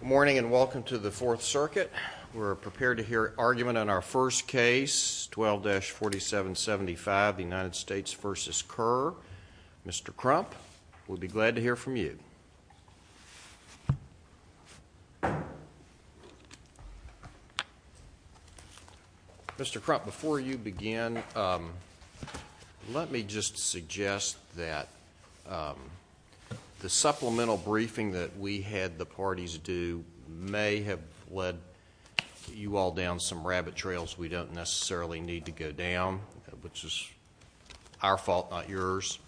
Good morning and welcome to the Fourth Circuit. We're prepared to hear argument on our first case 12-4775 the United States v. Kerr. Mr. Crump we'll be glad to hear from you. Mr. Crump before you begin let me just suggest that the supplemental briefing that we had the parties do may have led you all down some rabbit trails we don't necessarily need to go down which is our fault not yours.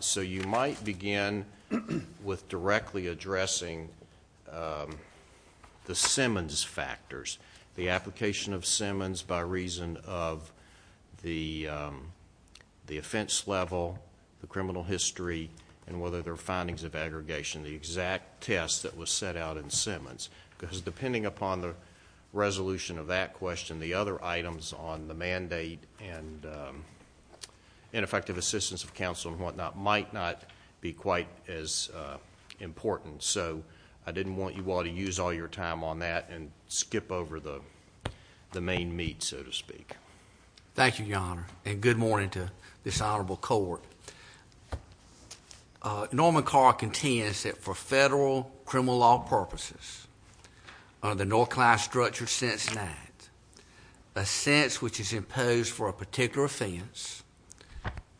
So you might begin with directly addressing the Simmons factors the application of Simmons by reason of the the offense level the criminal history and whether findings of aggregation the exact test that was set out in Simmons because depending upon the resolution of that question the other items on the mandate and ineffective assistance of counsel and whatnot might not be quite as important so I didn't want you all to use all your time on that and skip over the the main meat so to speak. Thank you your honor and good morning to this Norman Kerr contends that for federal criminal law purposes under the North Clyde structure since that a sense which is imposed for a particular offense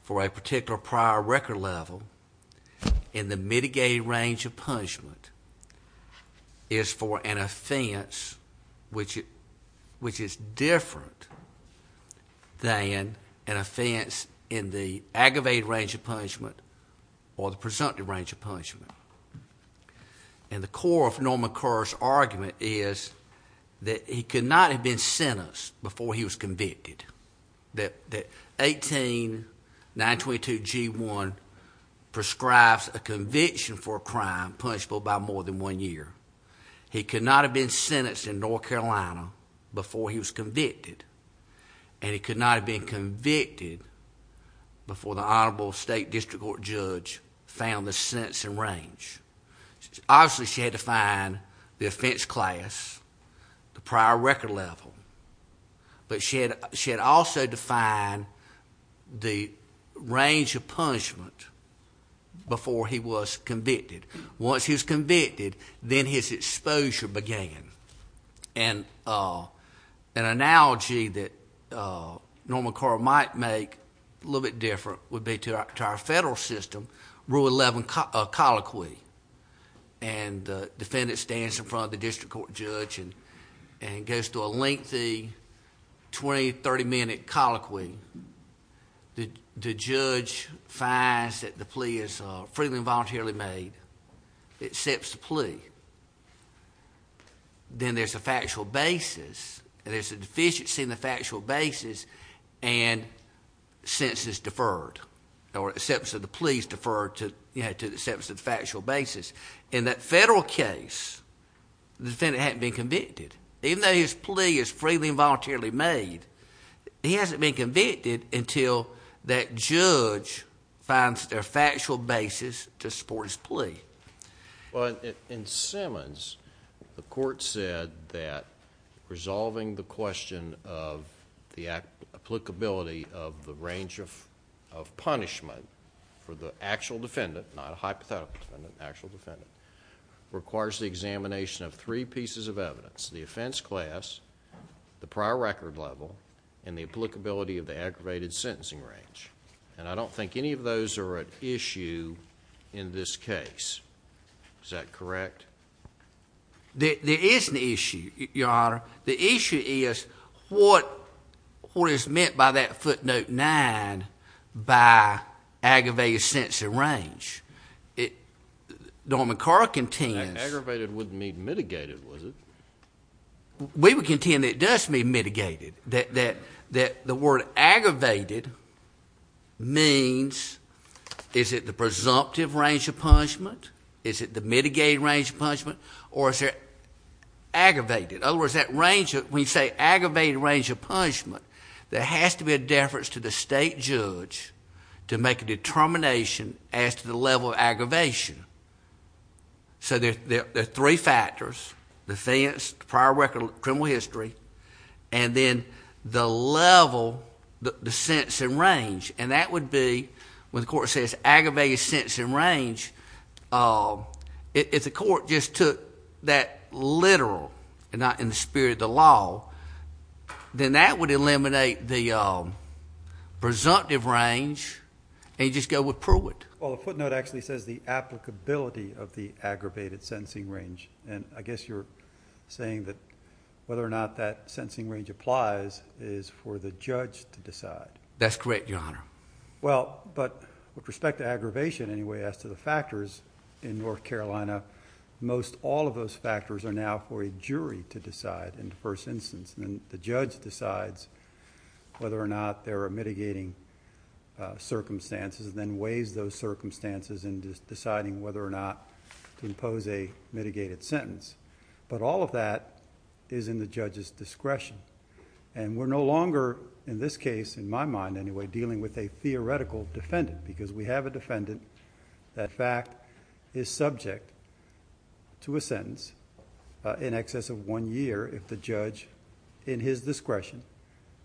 for a particular prior record level in the mitigated range of punishment is for an offense which it which is different than an offense in the aggravated range of punishment and the core of Norman Kerr's argument is that he could not have been sentenced before he was convicted that that 18 922 g1 prescribes a conviction for a crime punishable by more than one year he could not have been sentenced in North Carolina before he was convicted and he could not have been convicted before the Honorable State District Court judge found the sense and range obviously she had to find the offense class the prior record level but she had she had also defined the range of punishment before he was convicted once he was convicted then his exposure began and an analogy that Norman Kerr might make a little bit different would be to our federal system rule 11 colloquy and the defendant stands in front of the district court judge and and goes to a lengthy 20 30 minute colloquy the judge finds that the plea is freely voluntarily made accepts the plea then there's a factual basis and there's a census deferred or accepts of the police deferred to you had to the steps of factual basis in that federal case the defendant had been convicted even though his plea is freely involuntarily made he hasn't been convicted until that judge finds their factual basis to support his plea well in Simmons the court said that applicability of the range of punishment for the actual defendant not a hypothetical actual defendant requires the examination of three pieces of evidence the offense class the prior record level and the applicability of the aggravated sentencing range and I don't think any of those are at issue in this case is that correct there is an issue your honor the issue is what what is meant by that footnote 9 by aggravated sense of range it Norman Carr contained aggravated would mean mitigated was it we would contend it does mean mitigated that that that the word aggravated means is it the presumptive range of punishment is it the mitigated range of punishment or is it aggravated over is that range that we say aggravated range of punishment there has to be a deference to the state judge to make a determination as to the level of aggravation so there are three factors the fence prior record criminal history and then the level the sense and range and that would be when the court says aggravated sense and range if the court just took that literal and not in the spirit of the law then that would eliminate the presumptive range and you just go with Pruitt well the footnote actually says the applicability of the aggravated sentencing range and I guess you're saying that whether or not that sentencing range applies is for the judge to decide that's correct your perspective aggravation anyway as to the factors in North Carolina most all of those factors are now for a jury to decide in the first instance and the judge decides whether or not there are mitigating circumstances then weighs those circumstances and just deciding whether or not to impose a mitigated sentence but all of that is in the judge's discretion and we're no longer in this case in my mind anyway dealing with a theoretical defendant because we have a defendant that fact is subject to a sentence in excess of one year if the judge in his discretion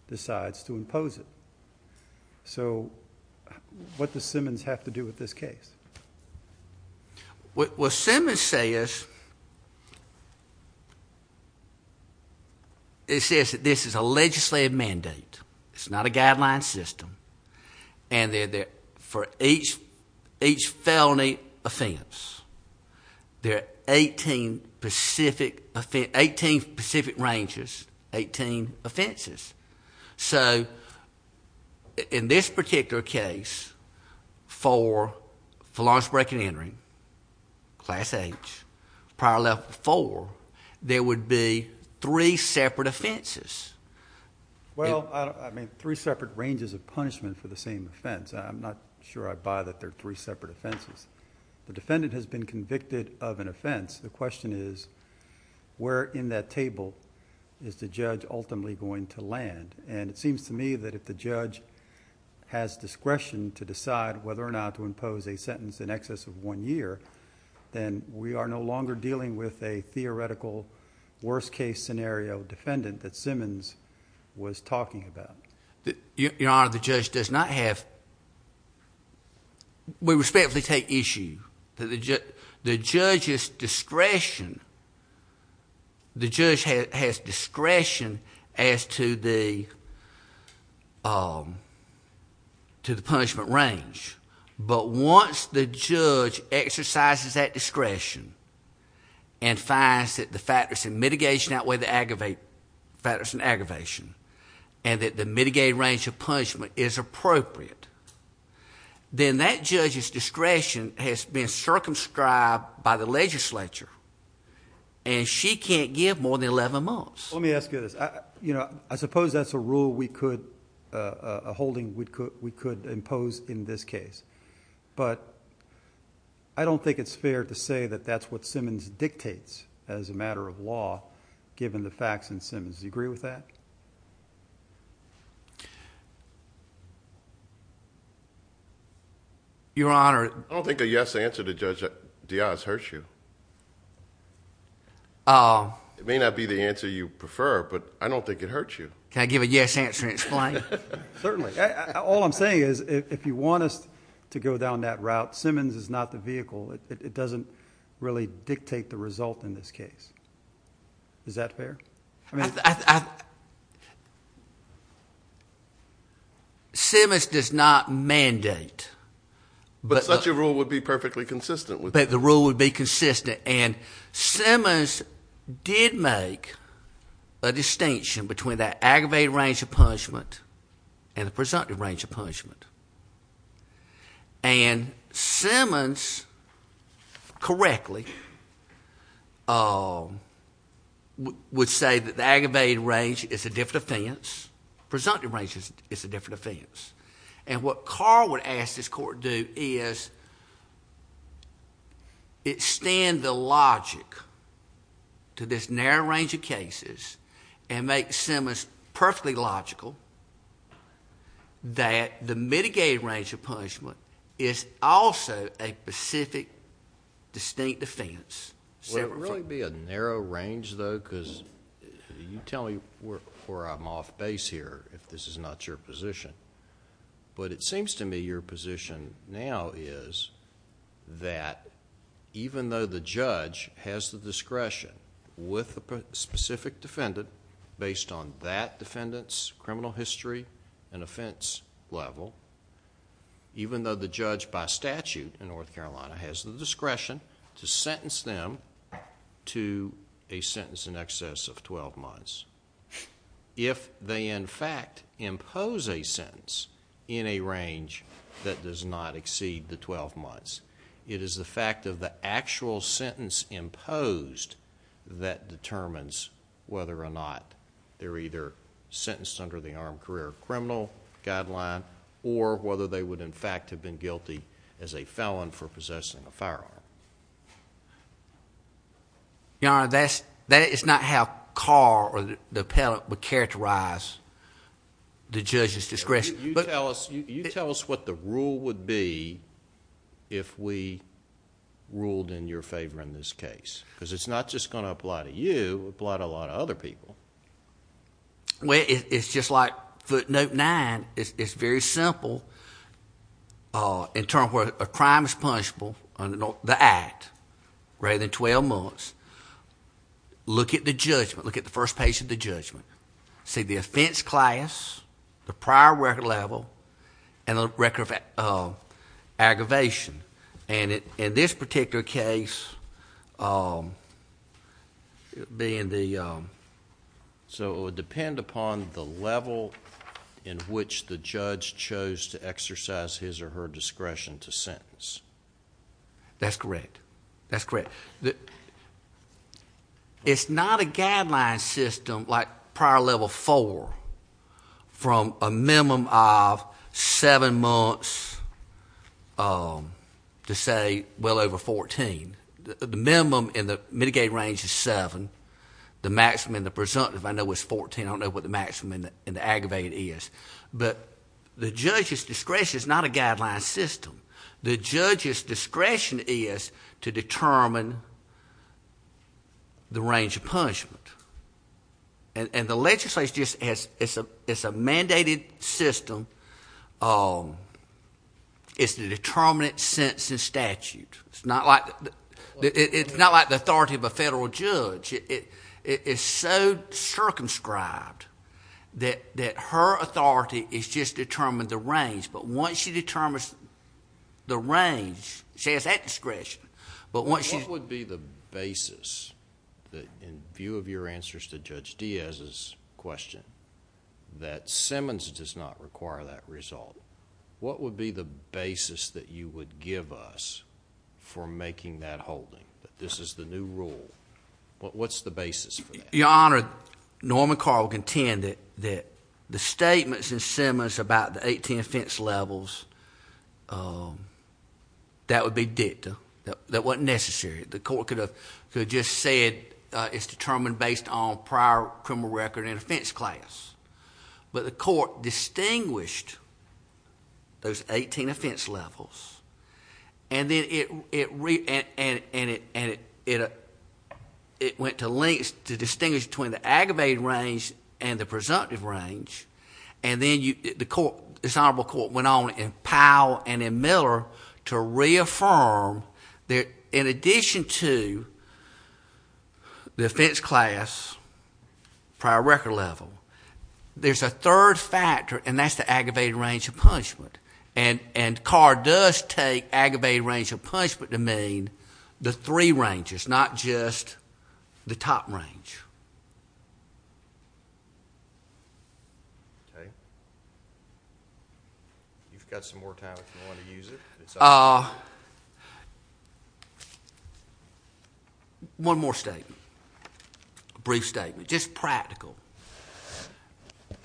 decides to impose it so what the Simmons have to do with this case what was Simmons say is it says that this is a legislative mandate it's not a guideline system and they're there for each each felony offense they're 18 Pacific offense 18 Pacific ranges 18 offenses so in this particular case for for Lawrence break-and-entering class H prior left for there would be three separate offenses well I mean three separate ranges of punishment for the same offense I'm not sure I buy that they're three separate offenses the defendant has been convicted of an offense the question is where in that table is the judge ultimately going to land and it seems to me that if the judge has discretion to decide whether or not to longer dealing with a theoretical worst-case scenario defendant that Simmons was talking about that your honor the judge does not have we respectfully take issue that the jet the judge's discretion the judge has discretion as to the to the punishment range but once the judge exercises that discretion and finds that the factors in mitigation outweigh the aggravate factors and aggravation and that the mitigated range of punishment is appropriate then that judge's discretion has been circumscribed by the legislature and she can't give more than 11 months let me ask you this you know I suppose that's a rule we could a holding we could we could impose in this case but I don't think it's fair to say that that's what Simmons dictates as a matter of law given the facts and Simmons you agree with that your honor I don't think a yes answer to judge Diaz hurt you oh it may not be the answer you prefer but I don't think it hurts you can I give a yes answer certainly all I'm saying is if you want us to go down that route Simmons is not the vehicle it doesn't really dictate the result in this case is that fair I mean Simmons does not mandate but such a rule would be perfectly consistent with that the rule would be consistent and Simmons did make a distinction between that aggravated range of punishment and the presumptive range of punishment and Simmons correctly would say that the aggravated range is a different offense presumptive range is a different offense and what Carl would ask this court to do is it stand the logic to this narrow range of cases and make Simmons perfectly logical that the mitigated range of punishment is also a specific distinct defense several really be a narrow range though because you tell me where I'm off base here if this is not your position but it seems to me your position now is that even though the judge has the discretion with the specific defendant based on that defendants criminal history and offense level even though the judge by statute in North Carolina has the discretion to sentence them to a sentence in excess of twelve months if they in fact impose a range that does not exceed the twelve months it is the fact of the actual sentence imposed that determines whether or not they're either sentenced under the armed career criminal guideline or whether they would in fact have been guilty as a felon for possessing a firearm you know that's that is not how car or the pellet would characterize the judges discretion but tell us you tell us what the rule would be if we ruled in your favor in this case because it's not just going to apply to you a lot a lot of other people well it's just like footnote 9 it's very simple in term of crime is punishable on the act rather than 12 months look at the judgment look at the first page of the judgment see the offense class the prior record level and a record of aggravation and it in this particular case being the so it would depend upon the level in which the judge chose to exercise his or her discretion to sentence that's correct that's correct that it's not a guideline system like prior level four from a minimum of seven months to say well over 14 the minimum in the mitigated range is seven the maximum the presumptive I know was 14 I don't know what the maximum in the aggravated is but the judges discretion is not a guideline system the judges discretion is to determine the range of punishment and the legislation just as it's a it's a mandated system is the determinant sentence and statute it's not like it's not like the authority of a federal judge it is so circumscribed that that her authority is just determined the range but once she determines the range says that discretion but what she would be the basis that in view of your answers to judge Diaz's question that Simmons does not require that result what would be the basis that you would give us for making that holding that this is the new rule what's the basis for your honor Norman Carl contended that the statements in Simmons about the 18 offense levels that would be dicta that wasn't necessary the court could have could just said it's determined based on prior criminal record and offense class but the court distinguished those 18 offense levels and then it it read and it and it it it went to links to distinguish between the aggravated range and the presumptive range and then you the court this honorable court went on in Powell and in Miller to reaffirm that in addition to the offense class prior record level there's a third factor and that's the aggravated range of punishment and and car does take aggravated range of punishment to mean the three ranges not just the top range you've got some more time to use it ah one more state brief statement just practical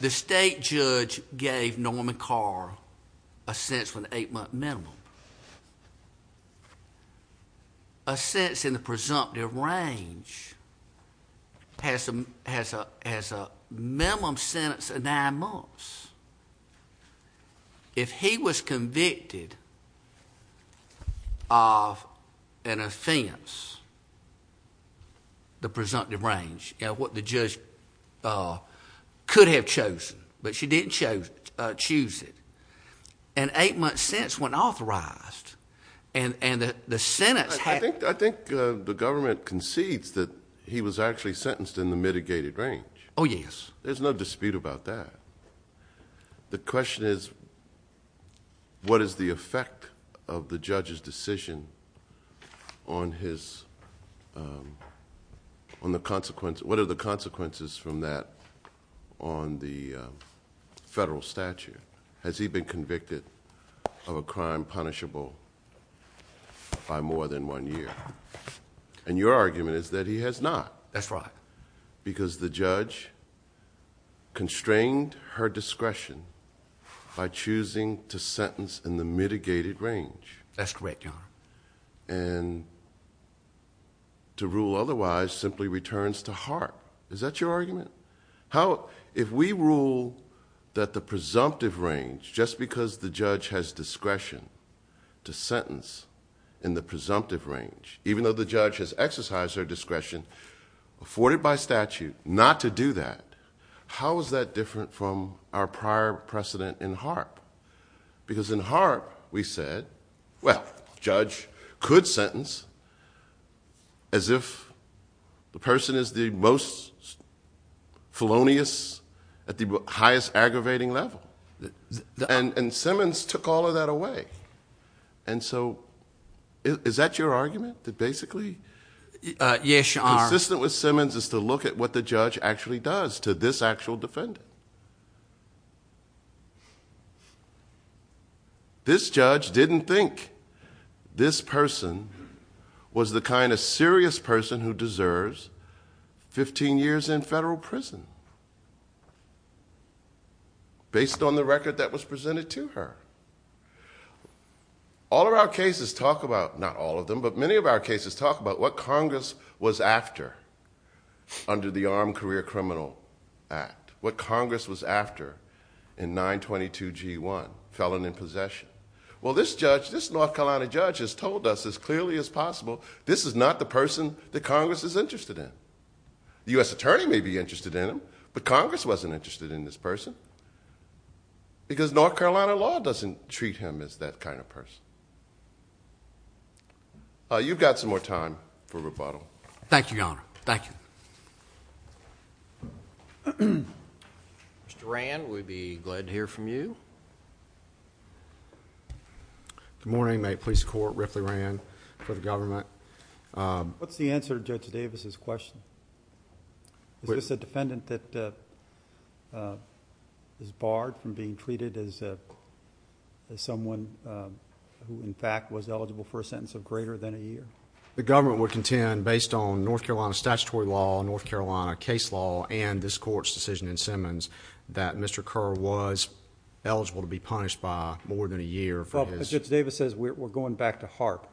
the state judge gave Norman Carl a sense when eight-month minimum a sense in the presumptive range has a has a has a minimum sentence of nine months if he was convicted of an offense the presumptive range you know what the judge could have chosen but she didn't chose choose it and eight months since when authorized and and that the Senate I think I think the government concedes that he was actually sentenced in the mitigated range oh yes there's no dispute about that the question is what is the effect of the judge's decision on his on the consequence what are the consequences from that on the federal statute has he been convicted of a crime punishable by more than one year and your argument is that he has not that's right because the judge constrained her discretion by choosing to sentence in the mitigated range that's correct and to rule otherwise simply returns to heart is that your argument how if we rule that the presumptive range just because the judge has discretion to sentence in the presumptive range even though the judge has exercised her discretion afforded by statute not to do that how is that different from our prior precedent in heart because in heart we said well judge could sentence as if the person is the most felonious at the highest aggravating level and and Simmons took all of that away and so is that your argument that basically yes you are this that was Simmons is to look at what the this person was the kind of serious person who deserves 15 years in federal prison based on the record that was presented to her all of our cases talk about not all of them but many of our cases talk about what Congress was after under the Armed Career Criminal Act what Congress was after in 922 g1 felon in others told us as clearly as possible this is not the person that Congress is interested in the US Attorney may be interested in him but Congress wasn't interested in this person because North Carolina law doesn't treat him as that kind of person you've got some more time for rebuttal thank you y'all thank you Mr. Rand we'd be glad to hear from you good morning my police court Ripley ran for the government what's the answer judge Davis's question is this a defendant that is barred from being treated as someone who in fact was eligible for a sentence of greater than a year the government would contend based on North Carolina statutory law North Carolina case law and this court's decision in Simmons that mr. Kerr was eligible to be punished by more than a year for his Davis says we're going back to harp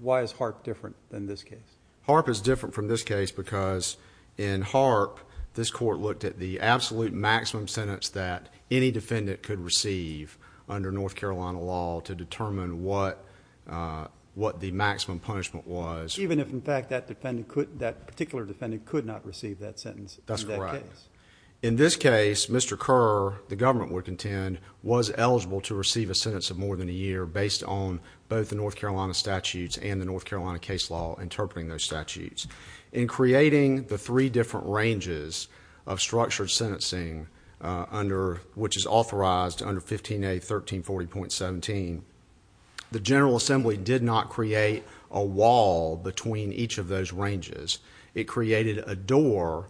why is heart different than this case harp is different from this case because in harp this court looked at the absolute maximum sentence that any defendant could receive under North Carolina law to determine what what the maximum punishment was even if in fact that defendant could that particular defendant could not receive that sentence that's correct in this case mr. Kerr the government would contend was eligible to receive a sentence of more than a year based on both the North Carolina statutes and the North Carolina case law interpreting those statutes in creating the three different ranges of structured sentencing under which is authorized under 15 a 1340 point 17 the General Assembly did not create a wall between each of those ranges it created a door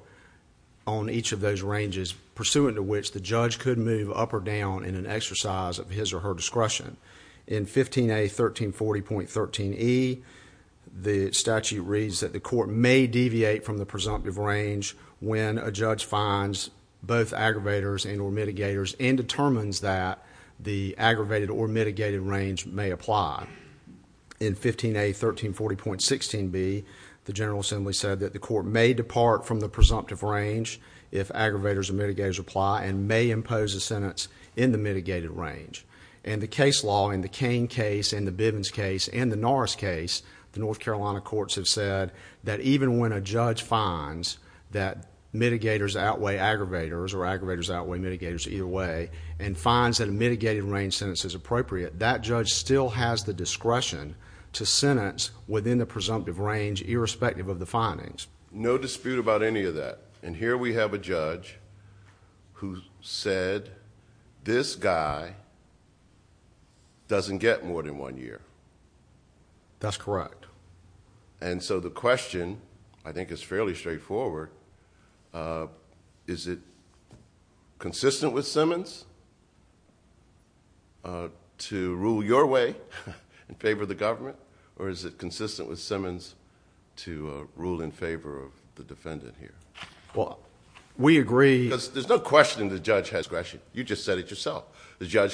on each of those ranges pursuant to which the judge could move up or down in an exercise of his or her discretion in 15 a 1340 point 13e the statute reads that the court may deviate from the presumptive range when a judge finds both aggravators and or mitigators and determines that the aggravated or mitigated range may apply in 15 a 1340 point 16 be the General Assembly said that the court may depart from the presumptive range if aggravators and mitigators apply and may impose a sentence in the mitigated range and the case law in the cane case in the Bivens case and the Norris case the North Carolina courts have said that even when a judge finds that mitigators outweigh aggravators or aggravators outweigh mitigators either way and finds that a mitigated range sentence is appropriate that judge still has the discretion to sentence within the presumptive range irrespective of the findings no dispute about any of that and here we have a judge who said this guy doesn't get more than one year that's correct and so the judge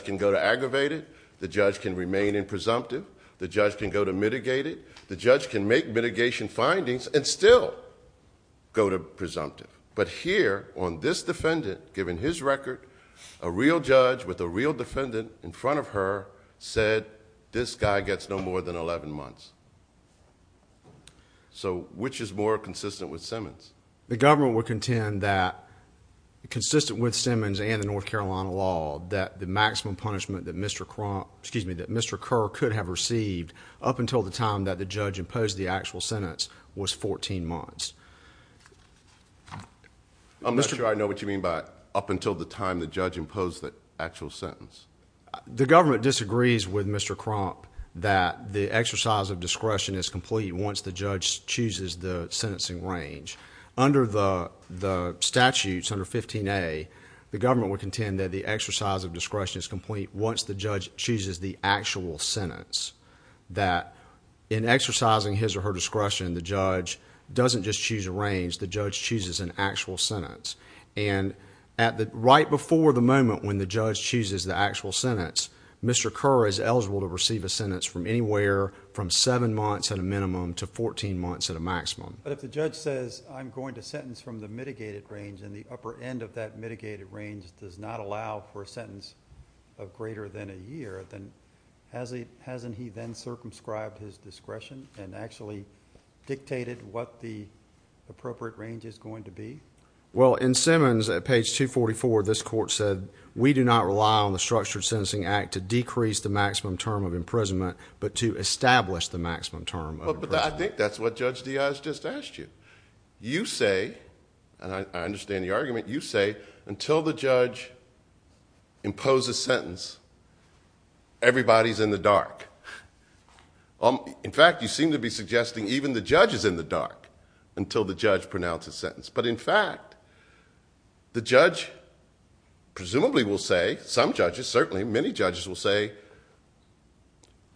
can go to aggravated the judge can remain in presumptive the judge can go to mitigated the judge can make mitigation findings and still go to presumptive but here on this defendant given his record a real judge with a real defendant in front of her said this guy gets no more than eleven months so which is more consistent with Simmons the government would contend that consistent with Simmons and the North Carolina law that the maximum punishment that mr. crop excuse me that mr. Kerr could have received up until the time that the judge imposed the actual sentence was fourteen months I'm not sure I know what you mean by up until the time the judge imposed the actual sentence the government disagrees with mr. crop that the exercise of discretion is complete once the judge chooses the sentencing range under the the statutes under 15 a the government would contend that the exercise of discretion is complete once the judge chooses the actual sentence that in exercising his or her discretion the judge doesn't just choose a range the judge chooses an actual sentence and at the right before the moment when the judge chooses the actual sentence mr. Kerr is eligible to receive a sentence from anywhere from seven months at a minimum to 14 months at a maximum but if the judge says I'm going to sentence from the mitigated range and the upper end of that mitigated range does not allow for a sentence of greater than a year then has he hasn't he then circumscribed his discretion and actually dictated what the appropriate range is going to be well in Simmons at page 244 this court said we do not rely on the structured sentencing act to decrease the maximum term of imprisonment but to establish the maximum term but I think that's what judge Diaz just asked you you say and I understand the argument you say until the judge impose a sentence everybody's in the dark um in fact you seem to be suggesting even the judge is in the dark until the judge pronounce a sentence but in fact the judge presumably will say some judges certainly many judges will say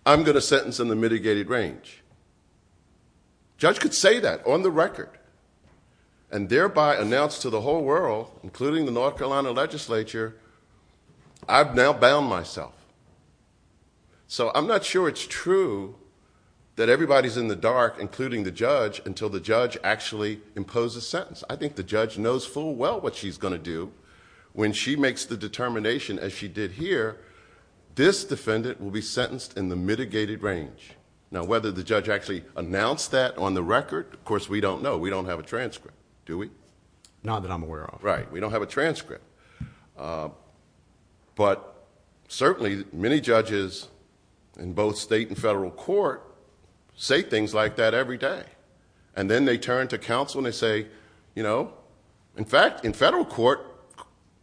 I'm gonna sentence in the mitigated range judge could say that on the record and thereby announced to the whole world including the North Carolina legislature I've now bound myself so I'm not sure it's true that everybody's in the dark including the judge until the judge actually impose a sentence I think the judge knows full well what she's going to do when she makes the determination as she did here this defendant will be sentenced in the mitigated range now whether the judge actually announced that on the record of course we don't know we don't have a transcript do we not that I'm aware of right we don't have a transcript but certainly many judges in both state and federal court say things like that every day and then they turn to counsel and they say you know in fact in federal court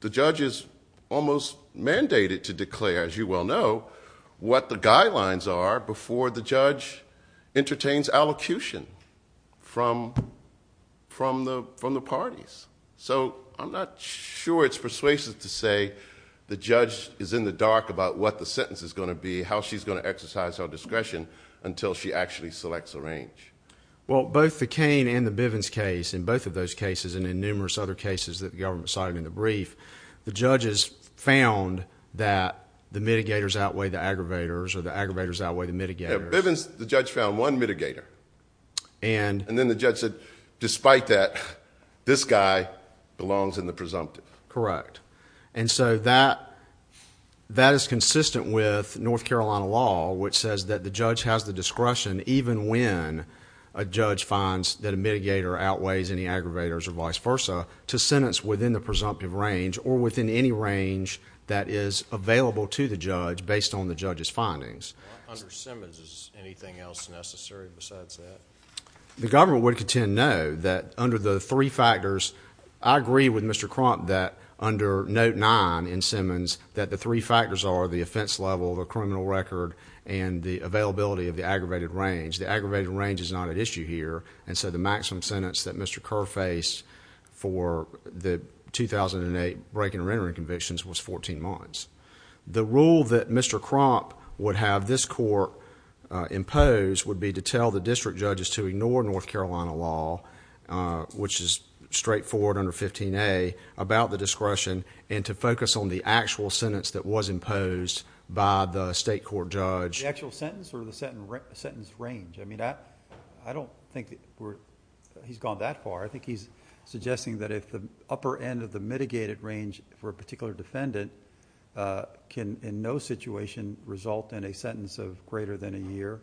the judge is almost mandated to declare as you well know what the guidelines are before the judge entertains allocution from from the from the parties so I'm not sure it's persuasive to say the judge is in the dark about what the sentence is going to be how she's going to exercise her range well both the cane and the Bivens case in both of those cases and in numerous other cases that the government cited in the brief the judges found that the mitigators outweigh the aggravators or the aggravators outweigh the mitigators the judge found one mitigator and and then the judge said despite that this guy belongs in the presumptive correct and so that that is consistent with North Carolina law which says that the judge has the discretion even when a judge finds that a mitigator outweighs any aggravators or vice versa to sentence within the presumptive range or within any range that is available to the judge based on the judge's findings the government would contend know that under the three factors I agree with mr. Crump that under note 9 in Simmons that the three factors are the offense level of a criminal record and the availability of the aggravated range the aggravated range is not an issue here and so the maximum sentence that mr. Kerr face for the 2008 breaking rendering convictions was 14 months the rule that mr. crop would have this court imposed would be to tell the district judges to ignore North Carolina law which is straightforward under 15a about the discretion and to focus on the actual sentence that was imposed by the state court judge actual sentence or the set range I mean that I don't think he's gone that far I think he's suggesting that if the upper end of the mitigated range for a particular defendant can in no situation result in a sentence of greater than a year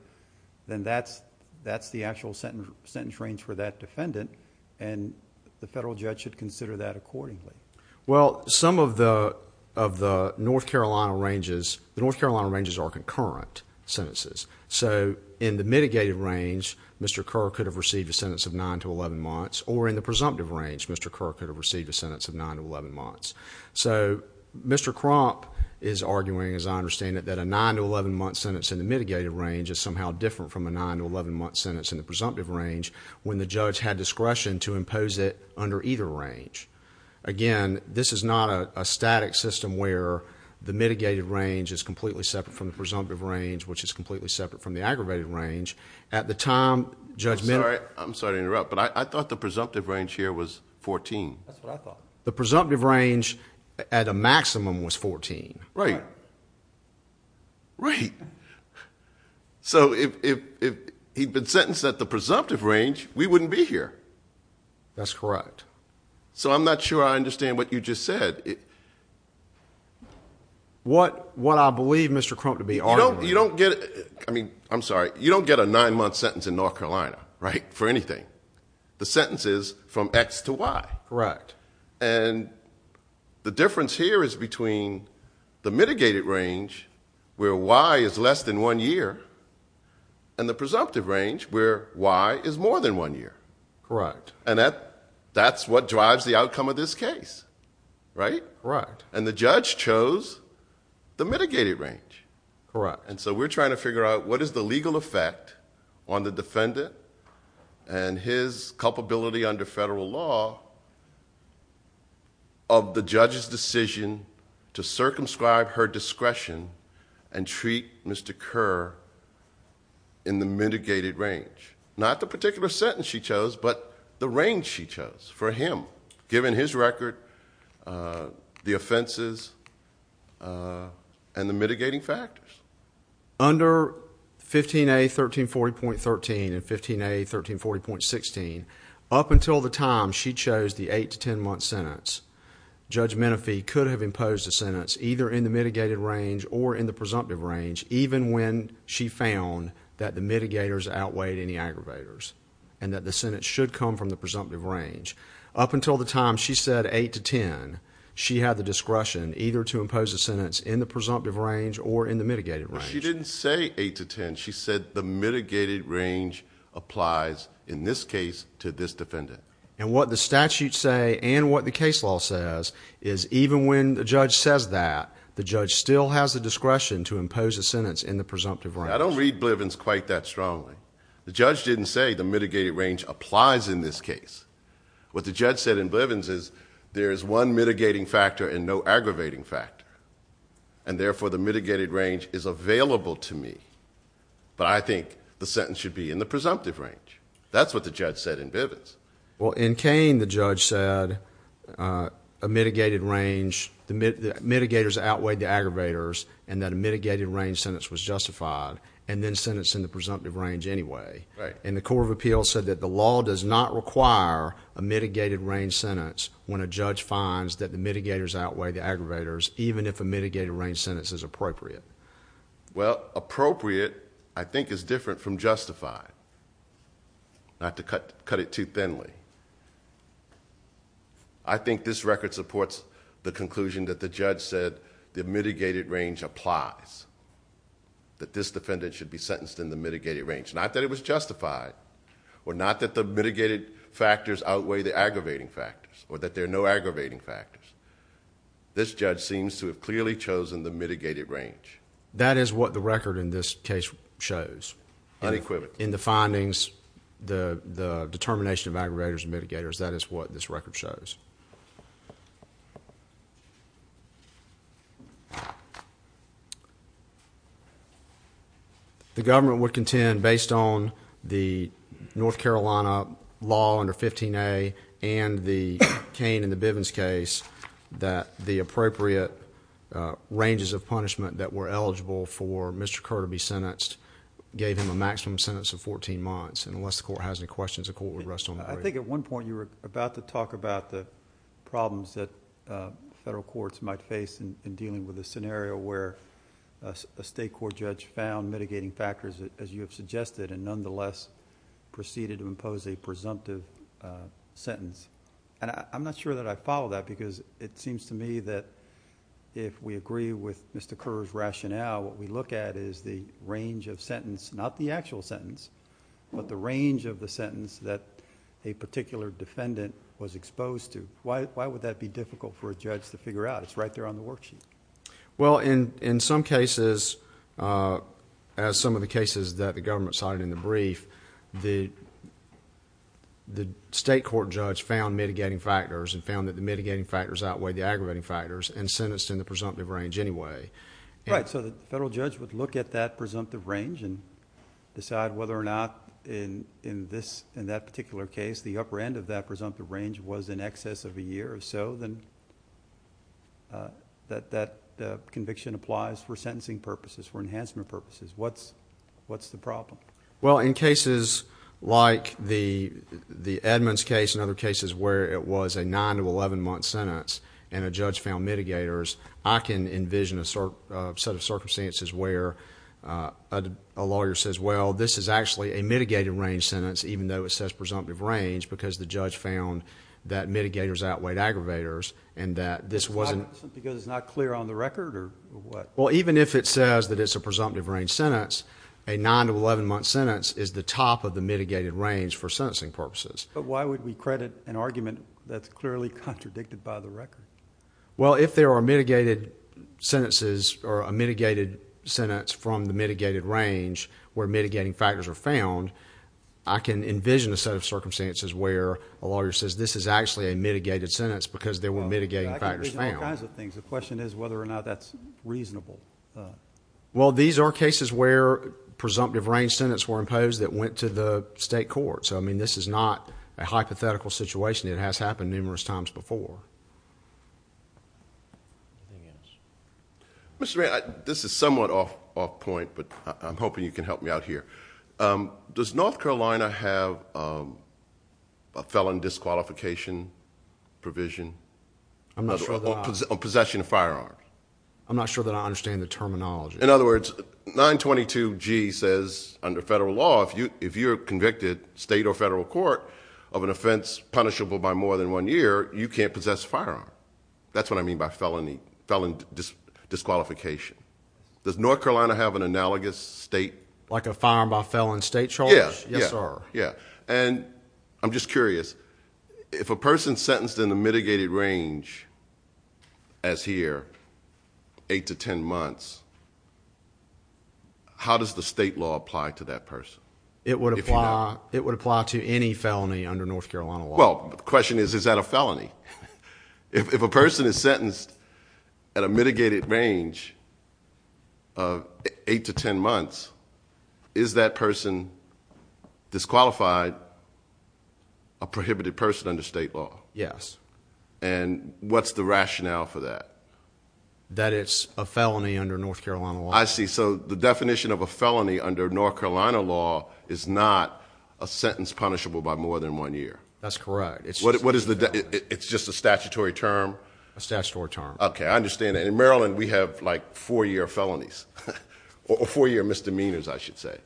then that's that's the actual sentence sentence range for that defendant and the federal judge should consider that accordingly well some of the of the North Carolina ranges North Carolina ranges are concurrent sentences so in the mitigated range mr. Kerr could have received a sentence of 9 to 11 months or in the presumptive range mr. Kerr could have received a sentence of 9 to 11 months so mr. crop is arguing as I understand it that a 9 to 11 month sentence in the mitigated range is somehow different from a 9 to 11 month sentence in the presumptive range when the judge had discretion to impose it under either range again this is not a completely separate from the presumptive range which is completely separate from the aggravated range at the time judgment I'm sorry to interrupt but I thought the presumptive range here was 14 the presumptive range at a maximum was 14 right right so if he'd been sentenced at the presumptive range we wouldn't be here that's correct so I'm not sure I understand what you just said what what I believe mr. Krump to be all you don't get it I mean I'm sorry you don't get a nine-month sentence in North Carolina right for anything the sentence is from X to Y correct and the difference here is between the mitigated range where Y is less than one year and the presumptive range where Y is more than one year correct and that that's what drives the outcome of this case right right and the judge chose the mitigated range correct and so we're trying to figure out what is the legal effect on the defendant and his culpability under federal law of the judge's decision to circumscribe her discretion and treat mr. Kerr in the mitigated range not the particular sentence she chose but the range she chose for him given his record the offenses and the mitigating factors under 15 a 1340 point 13 and 15 a 13 40 point 16 up until the time she chose the 8 to 10 month sentence judge Menifee could have imposed a sentence either in the mitigated range or in the presumptive range even when she found that the mitigators outweighed any aggravators and that the Senate should come from the presumptive range up until the time she said 8 to 10 she had the discretion either to impose a sentence in the presumptive range or in the mitigated right she didn't say 8 to 10 she said the mitigated range applies in this case to this defendant and what the statute say and what the case law says is even when the judge says that the judge still has the discretion to impose a sentence in the presumptive right I didn't say the mitigated range applies in this case what the judge said in Bivens is there is one mitigating factor and no aggravating factor and therefore the mitigated range is available to me but I think the sentence should be in the presumptive range that's what the judge said in Bivens well in Kane the judge said a mitigated range the mitigators outweighed the aggravators and that a mitigated range sentence was justified and then sentencing the court of appeals said that the law does not require a mitigated range sentence when a judge finds that the mitigators outweigh the aggravators even if a mitigated range sentence is appropriate well appropriate I think is different from justified not to cut cut it too thinly I think this record supports the conclusion that the judge said the mitigated range applies that this defendant should be sentenced in the mitigated range not that it was justified or not that the mitigated factors outweigh the aggravating factors or that there are no aggravating factors this judge seems to have clearly chosen the mitigated range that is what the record in this case shows unequivocal in the findings the the determination of aggravators and mitigators that is what this record shows the government would contend based on the North Carolina law under 15 a and the cane in the Bivens case that the appropriate ranges of punishment that were eligible for mr. Kerr to be sentenced gave him a maximum sentence of 14 months and unless the court has any questions the court would I think at one point you were about to talk about the problems that federal courts might face in dealing with a scenario where a state court judge found mitigating factors as you have suggested and nonetheless proceeded to impose a presumptive sentence and I'm not sure that I follow that because it seems to me that if we agree with mr. Kerr's rationale what we look at is the range of sentence not the actual sentence but the range of the sentence that a particular defendant was exposed to why would that be difficult for a judge to figure out it's right there on the worksheet well in in some cases as some of the cases that the government cited in the brief the the state court judge found mitigating factors and found that the mitigating factors outweigh the aggravating factors and sentenced in the presumptive range anyway right so the range and decide whether or not in in this in that particular case the upper end of that presumptive range was in excess of a year or so then that that conviction applies for sentencing purposes for enhancement purposes what's what's the problem well in cases like the the Edmonds case and other cases where it was a 9 to 11 month sentence and a judge found mitigators I can envision a sort of set of circumstances where a lawyer says well this is actually a mitigated range sentence even though it says presumptive range because the judge found that mitigators outweighed aggravators and that this wasn't because it's not clear on the record or what well even if it says that it's a presumptive range sentence a 9 to 11 month sentence is the top of the mitigated range for sentencing purposes but why would we credit an argument that's clearly contradicted by the record well if there are mitigated sentences or a mitigated sentence from the mitigated range where mitigating factors are found I can envision a set of circumstances where a lawyer says this is actually a mitigated sentence because there were mitigating factors found kinds of things the question is whether or not that's reasonable well these are cases where presumptive range sentence were imposed that went to the state court so I mean this is not a hypothetical situation it has happened numerous times before Mr. Ray this is somewhat off point but I'm hoping you can help me out here does North Carolina have a felon disqualification provision I'm not sure that possession of firearms I'm not sure that I understand the terminology in federal law if you if you're convicted state or federal court of an offense punishable by more than one year you can't possess firearm that's what I mean by felony felon disqualification does North Carolina have an analogous state like a firearm by felon state charge yeah yeah yeah and I'm just curious if a person sentenced in the mitigated range as here eight to ten months how does the law apply to that person it would apply it would apply to any felony under North Carolina well the question is is that a felony if a person is sentenced at a mitigated range of eight to ten months is that person disqualified a prohibited person under state law yes and what's the rationale for that that it's a under North Carolina law is not a sentence punishable by more than one year that's correct it's what is the it's just a statutory term a statutory term okay I understand in Maryland we have like four-year felonies or four year misdemeanors I should say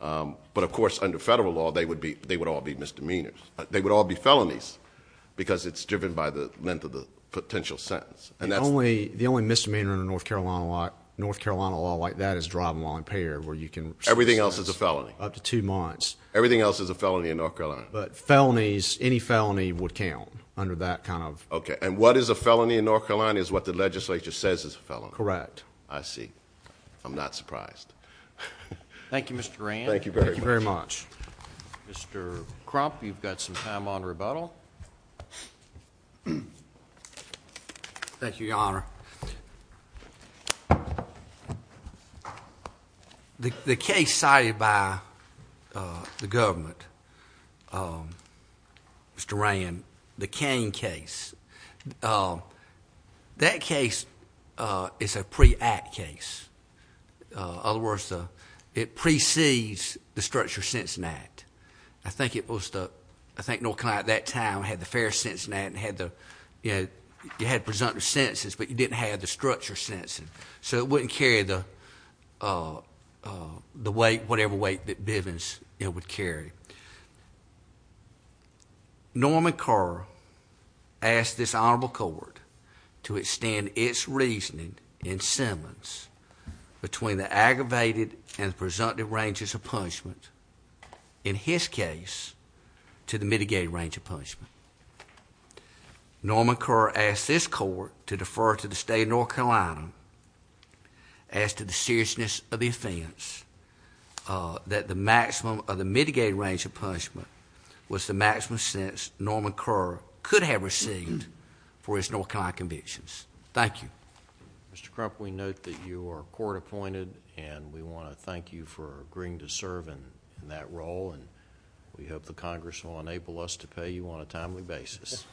but of course under federal law they would be they would all be misdemeanors they would all be felonies because it's driven by the length of the potential sentence and that's only the only misdemeanor in North Carolina like North Carolina law like that is driving while you can everything else is a felony up to two months everything else is a felony in North Carolina but felonies any felony would count under that kind of okay and what is a felony in North Carolina is what the legislature says is a fellow correct I see I'm not surprised thank you mr. Rand thank you very very much mr. crump you've got some time on rebuttal thank you your honor the case cited by the government mr. Ryan the cane case that case is a pre-act case other words though it precedes the structure since an act I think it was the I think no client at that time had the fair Cincinnati had the you know you had presumptive sentences but you didn't have the structure sentencing so it wouldn't carry the the weight whatever weight that Bivens it would carry Norman Carr asked this honorable court to extend its reasoning in Simmons between the aggravated and presumptive ranges of in his case to the mitigated range of punishment Norman Kerr asked this court to defer to the state of North Carolina as to the seriousness of the offense that the maximum of the mitigated range of punishment was the maximum sense Norman Kerr could have received for his North Carolina convictions thank you mr. crump we note that you are court-appointed and we want to thank you for agreeing to serve in that role and we hope the Congress will enable us to pay you on a timely basis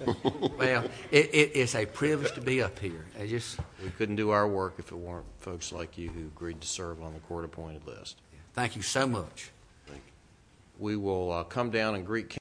well it is a privilege to be up here I just we couldn't do our work if it weren't folks like you who agreed to serve on the court-appointed list thank you so much thank you we will come down in Greek County